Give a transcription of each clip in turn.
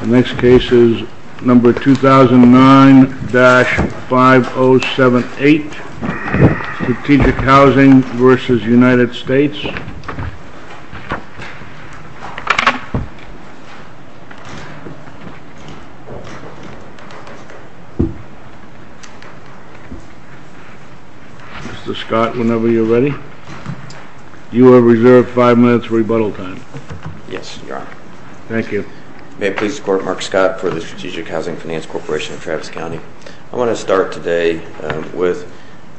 The next case is number 2009-5078 Strategic Housing v. United States Mr. Scott, whenever you're ready You are reserved 5 minutes rebuttal time Yes, your honor Thank you May it please the court, Mark Scott for the Strategic Housing Finance Corporation of Travis County I want to start today with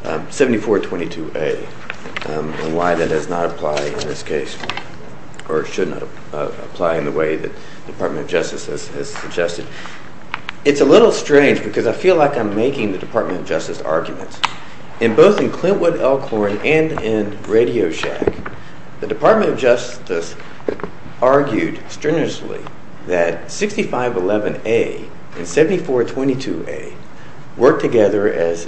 7422A and why that does not apply in this case Or should not apply in the way that the Department of Justice has suggested It's a little strange because I feel like I'm making the Department of Justice arguments In both in Clintwood, Elkhorn and in Radio Shack The Department of Justice argued strenuously that 6511A and 7422A work together as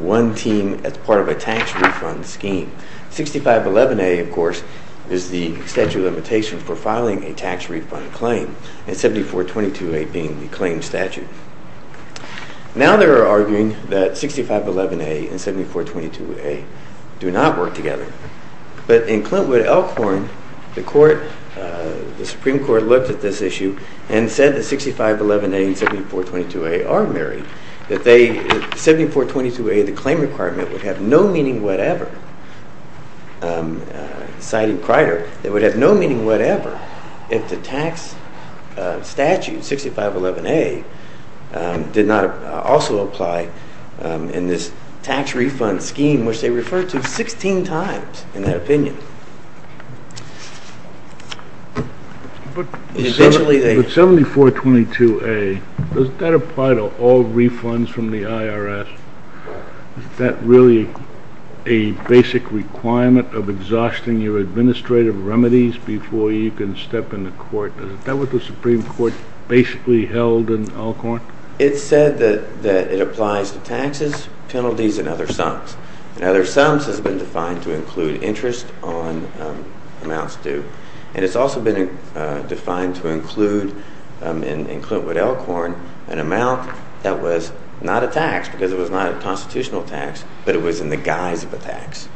one team as part of a tax refund scheme 6511A of course is the statute of limitation for filing a tax refund claim And 7422A being the claim statute Now they're arguing that 6511A and 7422A do not work together But in Clintwood, Elkhorn, the Supreme Court looked at this issue and said that 6511A and 7422A are married 7422A, the claim requirement, would have no meaning whatever Citing Crider, it would have no meaning whatever if the tax statute 6511A did not also apply in this tax refund scheme Which they referred to 16 times in that opinion But 7422A, does that apply to all refunds from the IRS? Is that really a basic requirement of exhausting your administrative remedies before you can step in the court? Is that what the Supreme Court basically held in Elkhorn? It said that it applies to taxes, penalties and other sums And other sums has been defined to include interest on amounts due And it's also been defined to include, in Clintwood, Elkhorn, an amount that was not a tax Because it was not a constitutional tax, but it was in the guise of a tax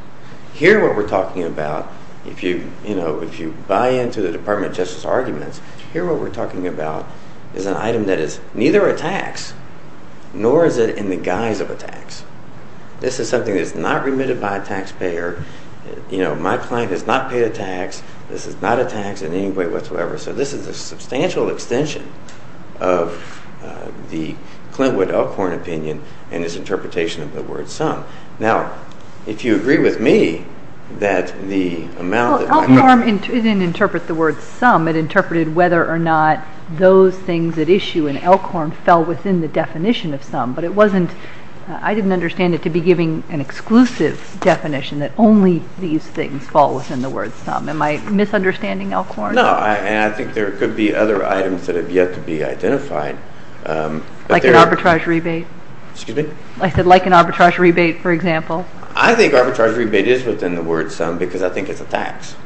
Here what we're talking about, if you buy into the Department of Justice arguments Here what we're talking about is an item that is neither a tax, nor is it in the guise of a tax This is something that is not remitted by a taxpayer My client has not paid a tax, this is not a tax in any way whatsoever So this is a substantial extension of the Clintwood Elkhorn opinion and its interpretation of the word sum Now, if you agree with me, that the amount... Elkhorn didn't interpret the word sum, it interpreted whether or not those things at issue in Elkhorn fell within the definition of sum But I didn't understand it to be giving an exclusive definition that only these things fall within the word sum Am I misunderstanding Elkhorn? No, and I think there could be other items that have yet to be identified Like an arbitrage rebate? Excuse me? I said like an arbitrage rebate, for example I think arbitrage rebate is within the word sum because I think it's a tax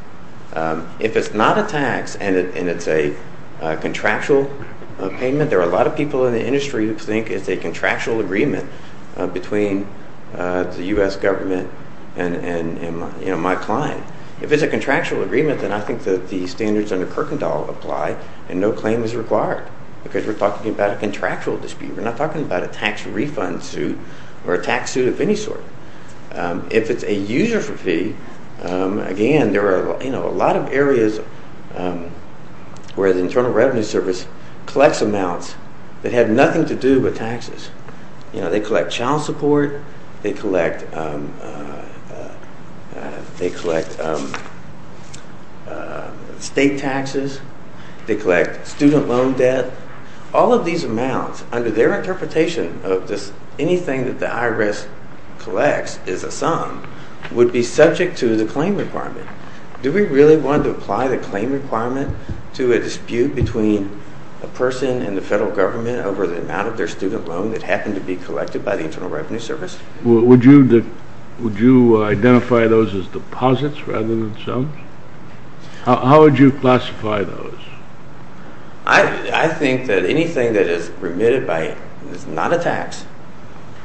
If it's not a tax and it's a contractual payment There are a lot of people in the industry who think it's a contractual agreement between the U.S. government and my client If it's a contractual agreement, then I think that the standards under Kirkendall apply and no claim is required Because we're talking about a contractual dispute, we're not talking about a tax refund suit or a tax suit of any sort If it's a user fee, again, there are a lot of areas where the Internal Revenue Service collects amounts that have nothing to do with taxes They collect child support, they collect state taxes, they collect student loan debt All of these amounts under their interpretation of anything that the IRS collects is a sum Would be subject to the claim requirement Do we really want to apply the claim requirement to a dispute between a person and the federal government Over the amount of their student loan that happened to be collected by the Internal Revenue Service? Would you identify those as deposits rather than sums? How would you classify those? I think that anything that is remitted by, it's not a tax,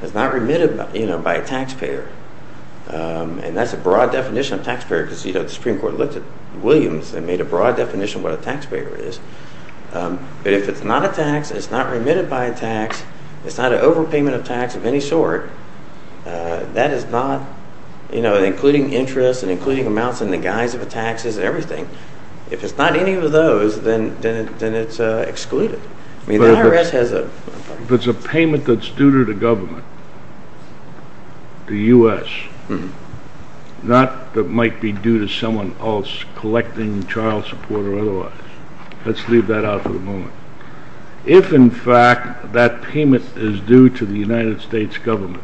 it's not remitted by a taxpayer And that's a broad definition of taxpayer because the Supreme Court looked at Williams and made a broad definition of what a taxpayer is But if it's not a tax, it's not remitted by a tax, it's not an overpayment of tax of any sort That is not, including interest and including amounts in the guise of a tax is everything If it's not any of those, then it's excluded If it's a payment that's due to the government, the US Not that might be due to someone else collecting child support or otherwise Let's leave that out for the moment If in fact that payment is due to the United States government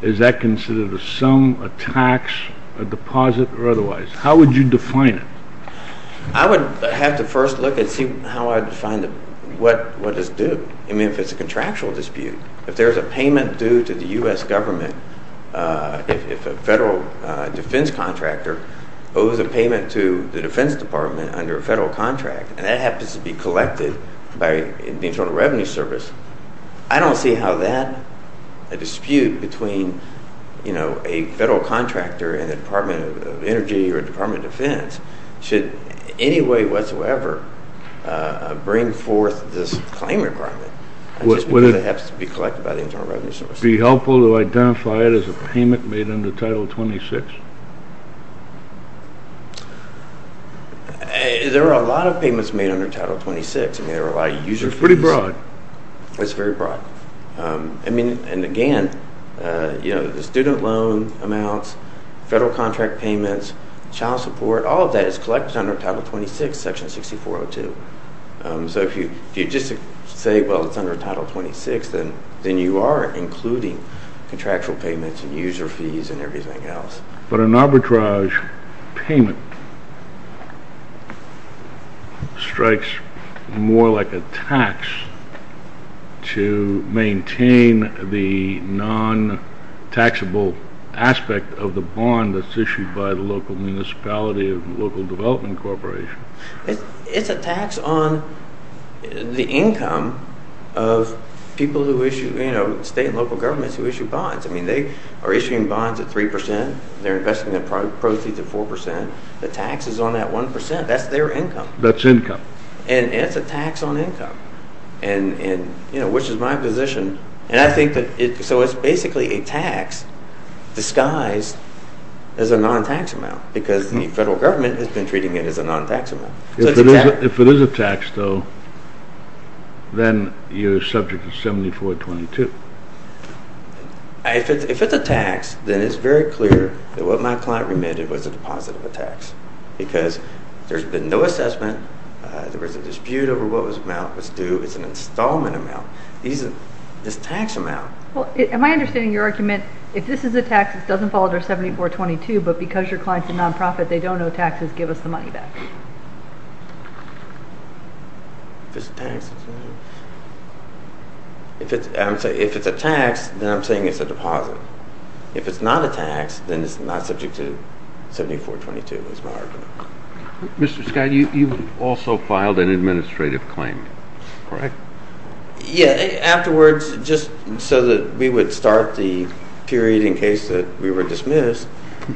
Is that considered a sum, a tax, a deposit or otherwise? How would you define it? I would have to first look and see how I define it What does it do? I mean if it's a contractual dispute If there's a payment due to the US government If a federal defense contractor owes a payment to the defense department under a federal contract And that happens to be collected by the Internal Revenue Service I don't see how that, a dispute between a federal contractor and the Department of Energy or the Department of Defense Should in any way whatsoever bring forth this claim requirement Just because it happens to be collected by the Internal Revenue Service Would it be helpful to identify it as a payment made under Title 26? There are a lot of payments made under Title 26 There are a lot of user fees It's pretty broad It's very broad And again, the student loan amounts, federal contract payments, child support All of that is collected under Title 26, Section 6402 So if you just say it's under Title 26 Then you are including contractual payments and user fees and everything else But an arbitrage payment strikes more like a tax To maintain the non-taxable aspect of the bond that's issued by the local municipality or local development corporation It's a tax on the income of people who issue, you know, state and local governments who issue bonds I mean, they are issuing bonds at 3% They're investing their proceeds at 4% The tax is on that 1% That's their income That's income And it's a tax on income And, you know, which is my position And I think that, so it's basically a tax disguised as a non-tax amount Because the federal government has been treating it as a non-tax amount If it is a tax though, then you're subject to 7422 If it's a tax, then it's very clear that what my client remitted was a deposit of a tax Because there's been no assessment There was a dispute over what amount was due It's an installment amount It's a tax amount Am I understanding your argument If this is a tax, it doesn't fall under 7422 But because your client is a non-profit, they don't owe taxes Give us the money back If it's a tax, then I'm saying it's a deposit If it's not a tax, then it's not subject to 7422 Mr. Scott, you also filed an administrative claim, correct? Yeah, afterwards, just so that we would start the period in case that we were dismissed We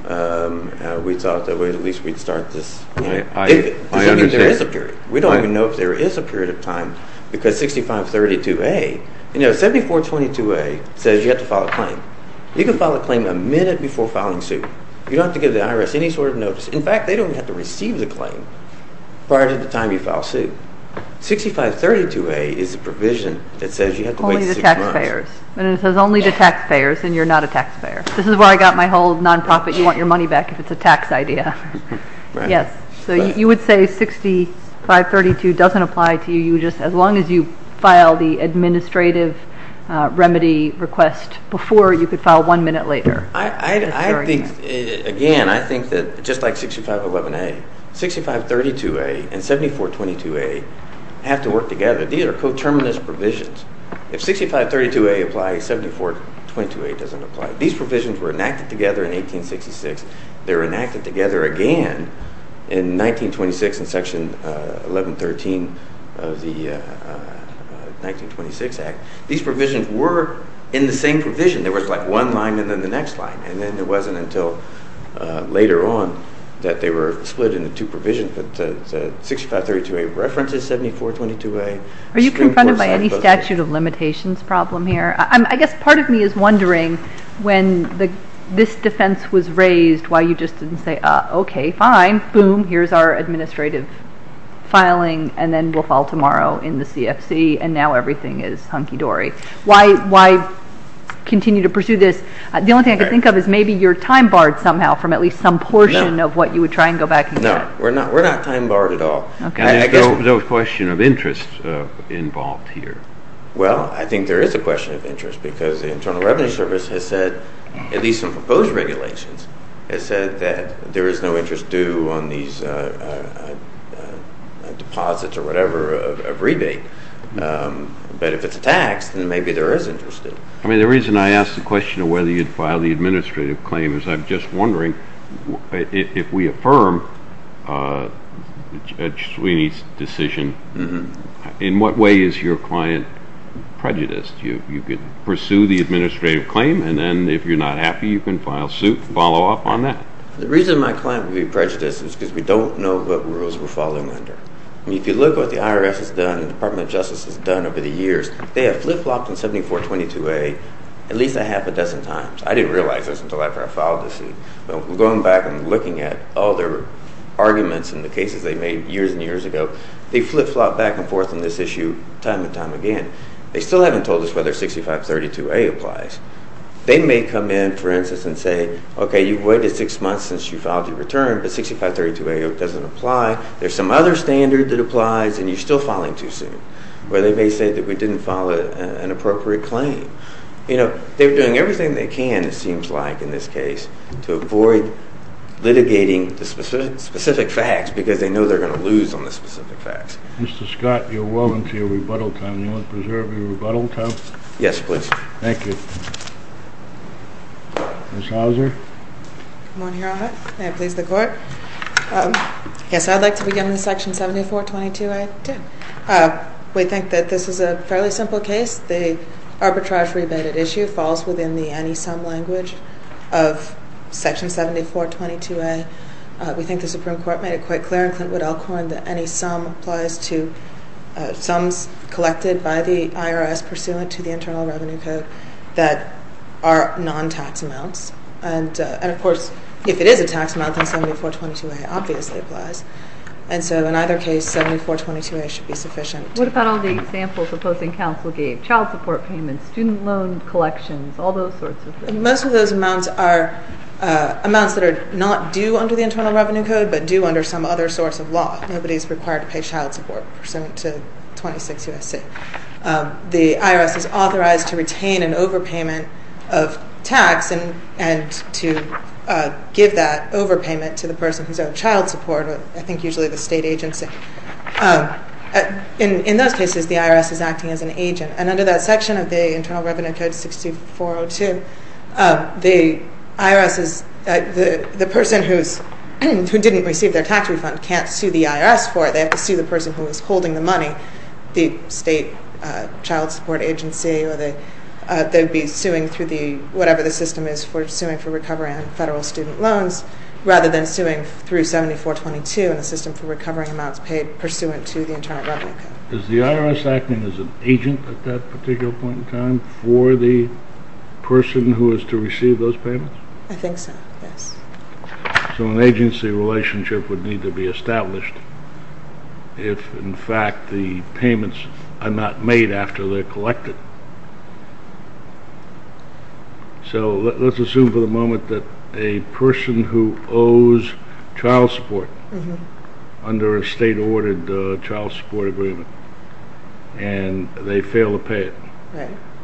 thought that at least we'd start this I understand We don't even know if there is a period of time Because 6532A, 7422A says you have to file a claim You can file a claim a minute before filing suit You don't have to give the IRS any sort of notice In fact, they don't have to receive the claim prior to the time you file suit 6532A is a provision that says you have to wait six months Only the taxpayers It says only the taxpayers and you're not a taxpayer This is where I got my whole non-profit, you want your money back if it's a tax idea So you would say 6532 doesn't apply to you As long as you file the administrative remedy request before, you could file one minute later Again, I think that just like 6511A, 6532A and 7422A have to work together These are coterminous provisions If 6532A applies, 7422A doesn't apply These provisions were enacted together in 1866 They were enacted together again in 1926 in section 1113 of the 1926 Act These provisions were in the same provision There was like one line and then the next line And then it wasn't until later on that they were split into two provisions But 6532A references 7422A Are you confronted by any statute of limitations problem here? I guess part of me is wondering when this defense was raised Why you just didn't say, okay, fine, boom, here's our administrative filing And then we'll file tomorrow in the CFC and now everything is hunky-dory Why continue to pursue this? The only thing I can think of is maybe you're time-barred somehow From at least some portion of what you would try and go back and do No, we're not time-barred at all There was a question of interest involved here Well, I think there is a question of interest Because the Internal Revenue Service has said, at least in proposed regulations Has said that there is no interest due on these deposits or whatever of rebate But if it's a tax, then maybe there is interest I mean, the reason I ask the question of whether you'd file the administrative claim Is I'm just wondering if we affirm Judge Sweeney's decision In what way is your client prejudiced? You could pursue the administrative claim And then if you're not happy, you can file suit, follow up on that The reason my client would be prejudiced is because we don't know what rules we're following under I mean, if you look at what the IRS has done and the Department of Justice has done over the years They have flip-flopped in 7422A at least a half a dozen times I didn't realize this until after I filed the suit But going back and looking at all their arguments and the cases they made years and years ago They flip-flopped back and forth on this issue time and time again They still haven't told us whether 6532A applies They may come in, for instance, and say Okay, you've waited six months since you filed your return, but 6532A doesn't apply There's some other standard that applies and you're still filing too soon Or they may say that we didn't file an appropriate claim You know, they're doing everything they can, it seems like, in this case to avoid litigating the specific facts because they know they're going to lose on the specific facts Mr. Scott, you're welcome to your rebuttal time Do you want to preserve your rebuttal time? Yes, please Thank you Ms. Hauser Good morning, Your Honor May it please the Court Yes, I'd like to begin with Section 7422A2 We think that this is a fairly simple case The arbitrage rebated issue falls within the any-sum language of Section 7422A We think the Supreme Court made it quite clear, and Clint Woodell coined it, that any sum applies to sums collected by the IRS pursuant to the Internal Revenue Code that are non-tax amounts And of course, if it is a tax amount, then 7422A obviously applies And so in either case, 7422A should be sufficient What about all the examples opposing counsel gave? Child support payments, student loan collections, all those sorts of things Most of those amounts are amounts that are not due under the Internal Revenue Code but due under some other source of law Nobody's required to pay child support pursuant to 26 U.S.C. The IRS is authorized to retain an overpayment of tax and to give that overpayment to the person who's owed child support I think usually the state agency In those cases, the IRS is acting as an agent And under that section of the Internal Revenue Code 6402 the IRS is...the person who didn't receive their tax refund can't sue the IRS for it They have to sue the person who is holding the money the state child support agency They'd be suing through the...whatever the system is for suing for recovery on federal student loans rather than suing through 7422 in the system for recovering amounts paid pursuant to the Internal Revenue Code Is the IRS acting as an agent at that particular point in time for the person who is to receive those payments? I think so, yes So an agency relationship would need to be established if in fact the payments are not made after they're collected So let's assume for the moment that a person who owes child support under a state-ordered child support agreement and they fail to pay it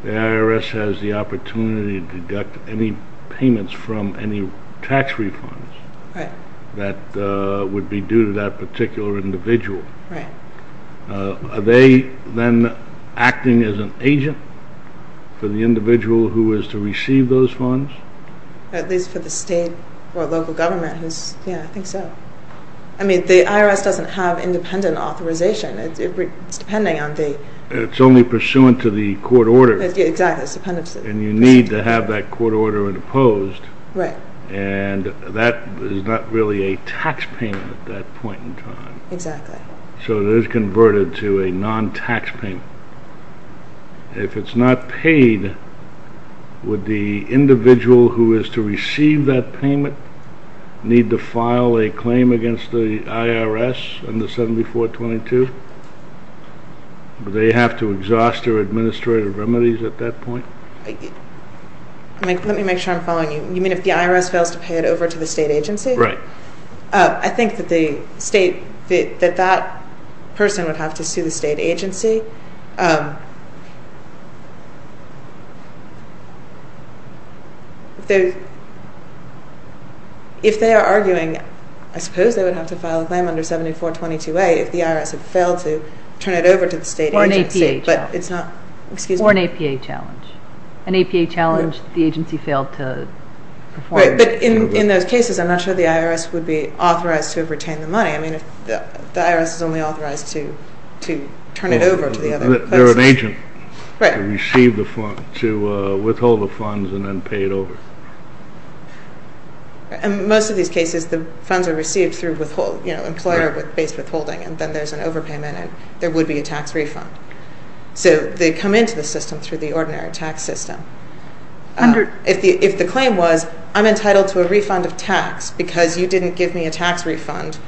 The IRS has the opportunity to deduct any payments from any tax refunds that would be due to that particular individual Are they then acting as an agent for the individual who is to receive those funds? At least for the state or local government Yeah, I think so I mean, the IRS doesn't have independent authorization It's depending on the... It's only pursuant to the court order Exactly And you need to have that court order imposed Right And that is not really a tax payment at that point in time Exactly So it is converted to a non-tax payment If it's not paid, would the individual who is to receive that payment need to file a claim against the IRS under 7422? Would they have to exhaust their administrative remedies at that point? Let me make sure I'm following you You mean if the IRS fails to pay it over to the state agency? Right I think that that person would have to sue the state agency If they are arguing, I suppose they would have to file a claim under 7422A if the IRS had failed to turn it over to the state agency Or an APA challenge Excuse me Or an APA challenge An APA challenge the agency failed to perform Right, but in those cases, I'm not sure the IRS would be authorized to retain the money I mean, the IRS is only authorized to turn it over to the other places They're an agent Right To receive the funds, to withhold the funds and then pay it over In most of these cases, the funds are received through withhold You know, employer-based withholding And then there's an overpayment and there would be a tax refund So they come into the system through the ordinary tax system If the claim was, I'm entitled to a refund of tax because you didn't give me a tax refund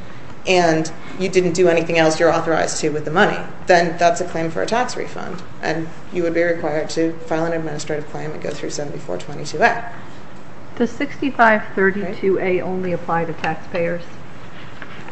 And you didn't do anything else you're authorized to with the money Then that's a claim for a tax refund And you would be required to file an administrative claim and go through 7422A Does 6532A only apply to taxpayers?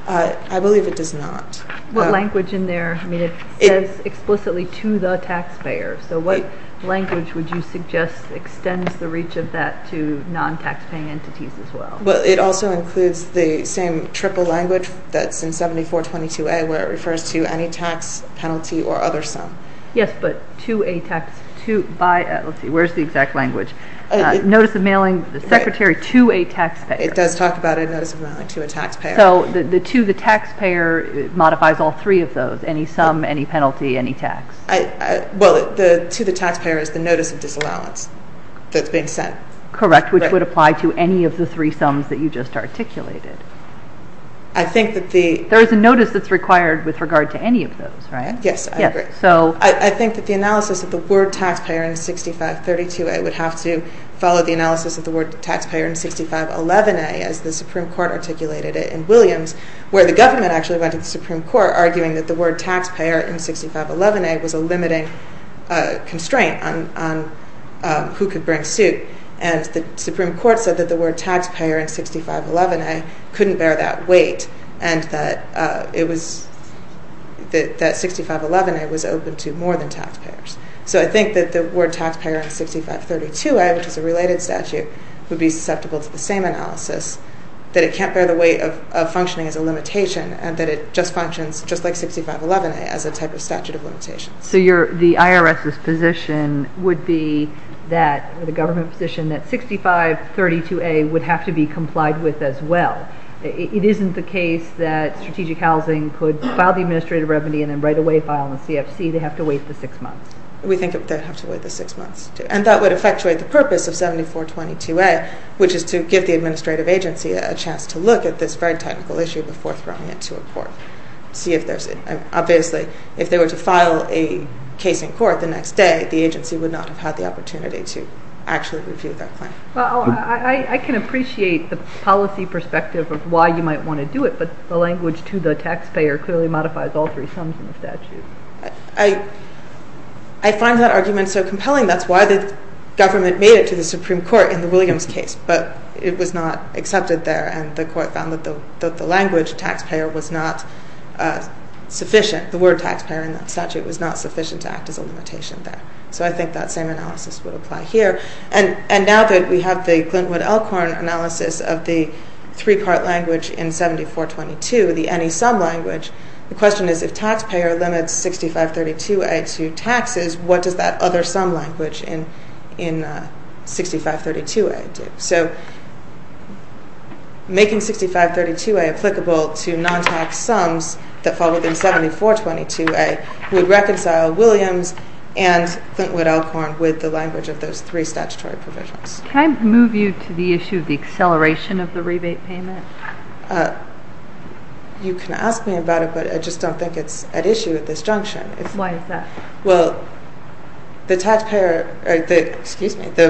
I believe it does not What language in there, I mean, it says explicitly to the taxpayer So what language would you suggest extends the reach of that to non-taxpaying entities as well? Well, it also includes the same triple language that's in 7422A where it refers to any tax penalty or other sum Yes, but to a tax, to, by, let's see, where's the exact language? Notice of mailing the secretary to a taxpayer It does talk about a notice of mailing to a taxpayer So the to the taxpayer modifies all three of those, any sum, any penalty, any tax? Well, the to the taxpayer is the notice of disallowance that's being sent Correct, which would apply to any of the three sums that you just articulated I think that the There is a notice that's required with regard to any of those, right? Yes, I agree I think that the analysis of the word taxpayer in 6532A would have to follow the analysis of the word taxpayer in 6511A As the Supreme Court articulated it in Williams Where the government actually went to the Supreme Court arguing that the word taxpayer in 6511A was a limiting constraint on who could bring suit And the Supreme Court said that the word taxpayer in 6511A couldn't bear that weight And that it was, that 6511A was open to more than taxpayers So I think that the word taxpayer in 6532A, which is a related statute, would be susceptible to the same analysis That it can't bear the weight of functioning as a limitation And that it just functions just like 6511A as a type of statute of limitations So the IRS's position would be that, the government position, that 6532A would have to be complied with as well It isn't the case that strategic housing could file the administrative remedy and then right away file a CFC They have to wait the six months We think they have to wait the six months And that would effectuate the purpose of 7422A Which is to give the administrative agency a chance to look at this very technical issue before throwing it to a court See if there's, obviously, if they were to file a case in court the next day The agency would not have had the opportunity to actually review that claim I can appreciate the policy perspective of why you might want to do it But the language to the taxpayer clearly modifies all three sums in the statute I find that argument so compelling That's why the government made it to the Supreme Court in the Williams case But it was not accepted there And the court found that the language taxpayer was not sufficient The word taxpayer in that statute was not sufficient to act as a limitation there So I think that same analysis would apply here And now that we have the Glynwood-Elkhorn analysis of the three-part language in 7422 The any-sum language The question is if taxpayer limits 6532A to taxes What does that other-sum language in 6532A do? So making 6532A applicable to non-tax sums that fall within 7422A Would reconcile Williams and Glynwood-Elkhorn with the language of those three statutory provisions Can I move you to the issue of the acceleration of the rebate payment? You can ask me about it but I just don't think it's at issue at this junction Why is that? Well, the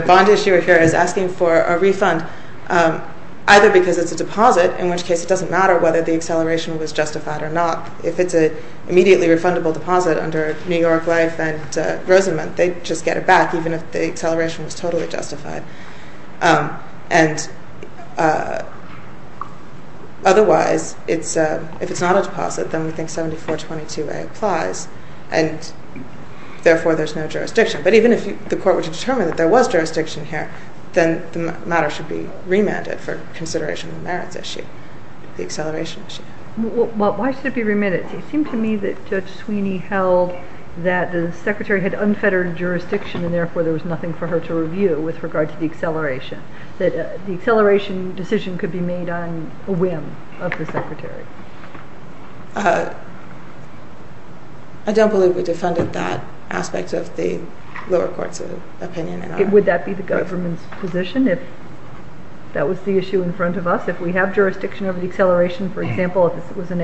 bond issuer here is asking for a refund Either because it's a deposit In which case it doesn't matter whether the acceleration was justified or not If it's an immediately refundable deposit under New York Life and Rosenman They'd just get it back even if the acceleration was totally justified And otherwise if it's not a deposit then we think 7422A applies And therefore there's no jurisdiction But even if the court were to determine that there was jurisdiction here Then the matter should be remanded for consideration of the merits issue The acceleration issue Why should it be remanded? It seemed to me that Judge Sweeney held that the secretary had unfettered jurisdiction And therefore there was nothing for her to review with regard to the acceleration That the acceleration decision could be made on a whim of the secretary I don't believe we defended that aspect of the lower court's opinion Would that be the government's position if that was the issue in front of us? If we have jurisdiction over the acceleration For example if it was an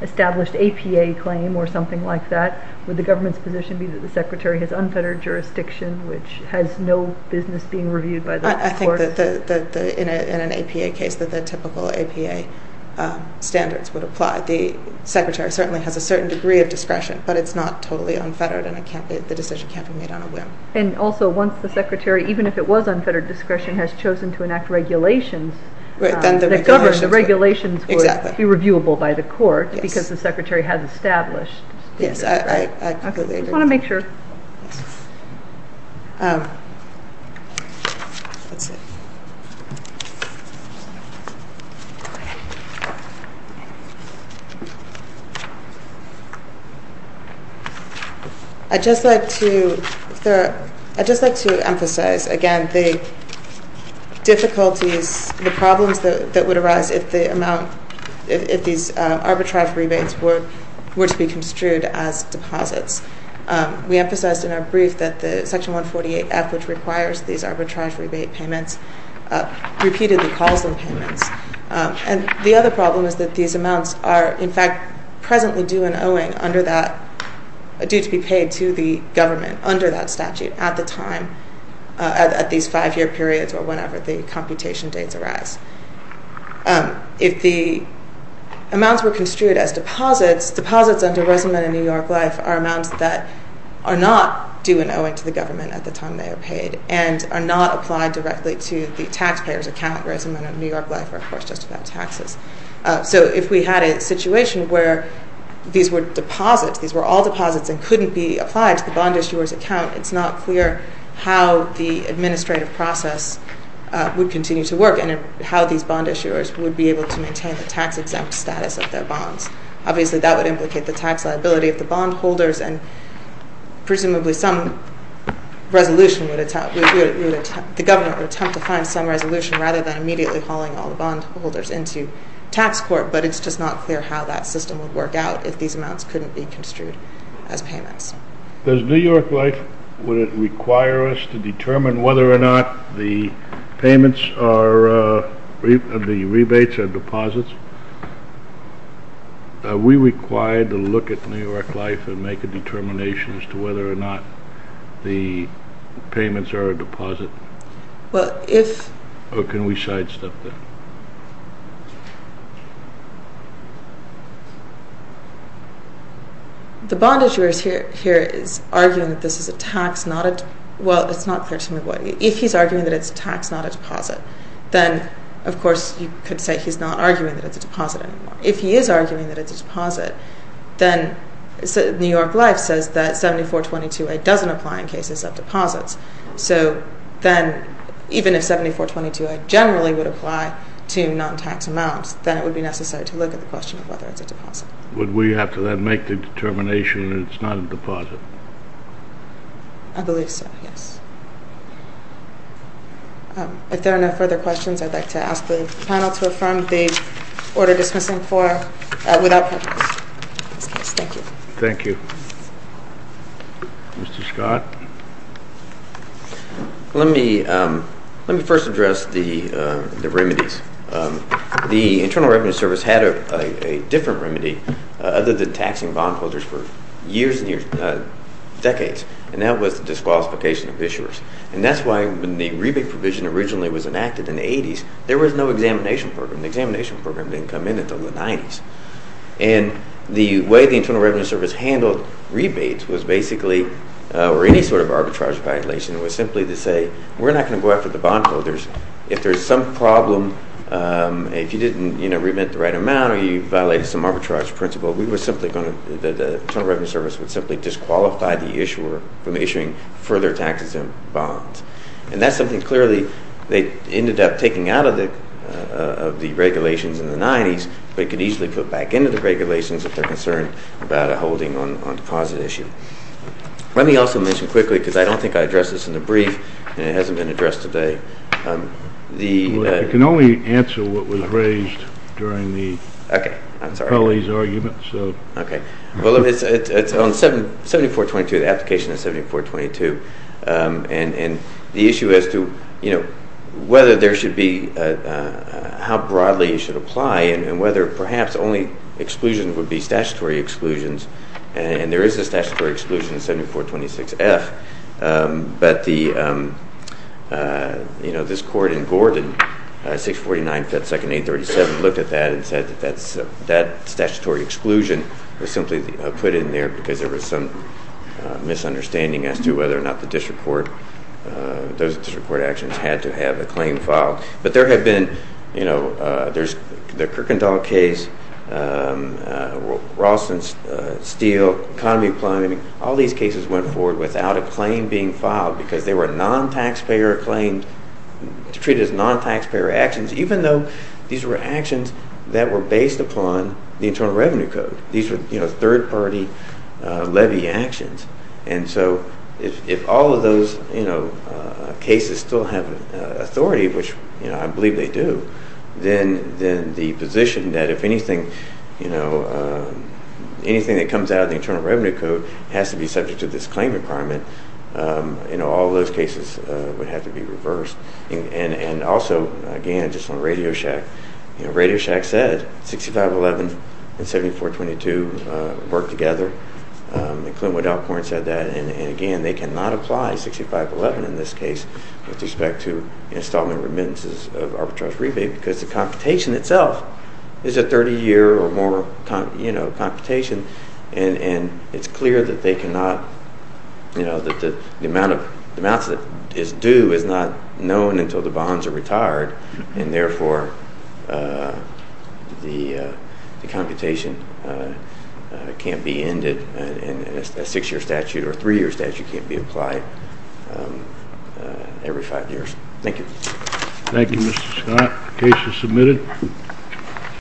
established APA claim or something like that Would the government's position be that the secretary has unfettered jurisdiction Which has no business being reviewed by the court? I think that in an APA case that the typical APA standards would apply The secretary certainly has a certain degree of discretion But it's not totally unfettered and the decision can't be made on a whim And also once the secretary, even if it was unfettered discretion Has chosen to enact regulations Then the regulations would be reviewable by the court Because the secretary has established Yes, I completely agree I just want to make sure I'd just like to emphasize again the difficulties, the problems that would arise If the amount, if these arbitrage rebates were to be construed as deposits We emphasized in our brief that the section 148F Which requires these arbitrage rebate payments Repeatedly calls them payments And the other problem is that these amounts are in fact presently due and owing Under that, due to be paid to the government Under that statute at the time, at these five year periods Or whenever the computation dates arise If the amounts were construed as deposits Deposits under Resolvent in New York Life Are amounts that are not due and owing to the government At the time they are paid And are not applied directly to the taxpayer's account Resolvent in New York Life are of course just about taxes So if we had a situation where these were deposits These were all deposits and couldn't be applied to the bond issuer's account It's not clear how the administrative process would continue to work And how these bond issuers would be able to maintain the tax exempt status of their bonds Obviously that would implicate the tax liability of the bond holders And presumably some resolution would attempt The government would attempt to find some resolution Rather than immediately hauling all the bond holders into tax court But it's just not clear how that system would work out If these amounts couldn't be construed as payments Does New York Life, would it require us to determine Whether or not the payments are The rebates are deposits Are we required to look at New York Life And make a determination as to whether or not The payments are a deposit Or can we sidestep that The bond issuer here is arguing that this is a tax Well it's not clear to me what If he's arguing that it's a tax not a deposit Then of course you could say he's not arguing that it's a deposit anymore If he is arguing that it's a deposit Then New York Life says that 7422A doesn't apply in cases of deposits So then even if 7422A generally would apply to non-tax amounts Then it would be necessary to look at the question of whether it's a deposit Would we have to then make the determination that it's not a deposit I believe so, yes If there are no further questions I'd like to ask the panel to affirm the order dismissing form Without preface Thank you Thank you Mr. Scott Let me first address the remedies The Internal Revenue Service had a different remedy Other than taxing bondholders for years and decades And that was the disqualification of issuers And that's why when the rebate provision originally was enacted in the 80s There was no examination program The examination program didn't come in until the 90s And the way the Internal Revenue Service handled rebates Was basically, or any sort of arbitrage violation Was simply to say we're not going to go after the bondholders If there's some problem If you didn't remit the right amount Why don't you violate some arbitrage principle We were simply going to The Internal Revenue Service would simply disqualify the issuer From issuing further taxes and bonds And that's something clearly They ended up taking out of the regulations in the 90s But could easily put back into the regulations If they're concerned about a holding on deposit issue Let me also mention quickly Because I don't think I addressed this in the brief And it hasn't been addressed today I can only answer what was raised during Kelly's argument Well it's on 7422, the application of 7422 And the issue as to whether there should be How broadly it should apply And whether perhaps only exclusions would be statutory exclusions And there is a statutory exclusion in 7426F But this court in Gordon, 649 Ft. 2nd. 837 Looked at that and said that statutory exclusion Was simply put in there Because there was some misunderstanding As to whether or not the district court Those district court actions had to have a claim filed But there have been There's the Kirkendall case Ralston, Steele, economy planning All these cases went forward without a claim being filed Because they were non-taxpayer claims Treated as non-taxpayer actions Even though these were actions That were based upon the Internal Revenue Code These were third party levy actions And so if all of those cases still have authority Which I believe they do Then the position that if anything Anything that comes out of the Internal Revenue Code Has to be subject to this claim requirement All of those cases would have to be reversed And also, again, just on Radio Shack Radio Shack said 6511 and 7422 work together And Clint Woodall said that And again, they cannot apply 6511 in this case With respect to installment remittances of arbitrage rebate Because the computation itself Is a 30 year or more computation And it's clear that they cannot That the amounts that is due Is not known until the bonds are retired And therefore the computation can't be ended And a 6 year statute or a 3 year statute can't be applied Every 5 years Thank you Thank you Mr. Scott The case is submitted Thank you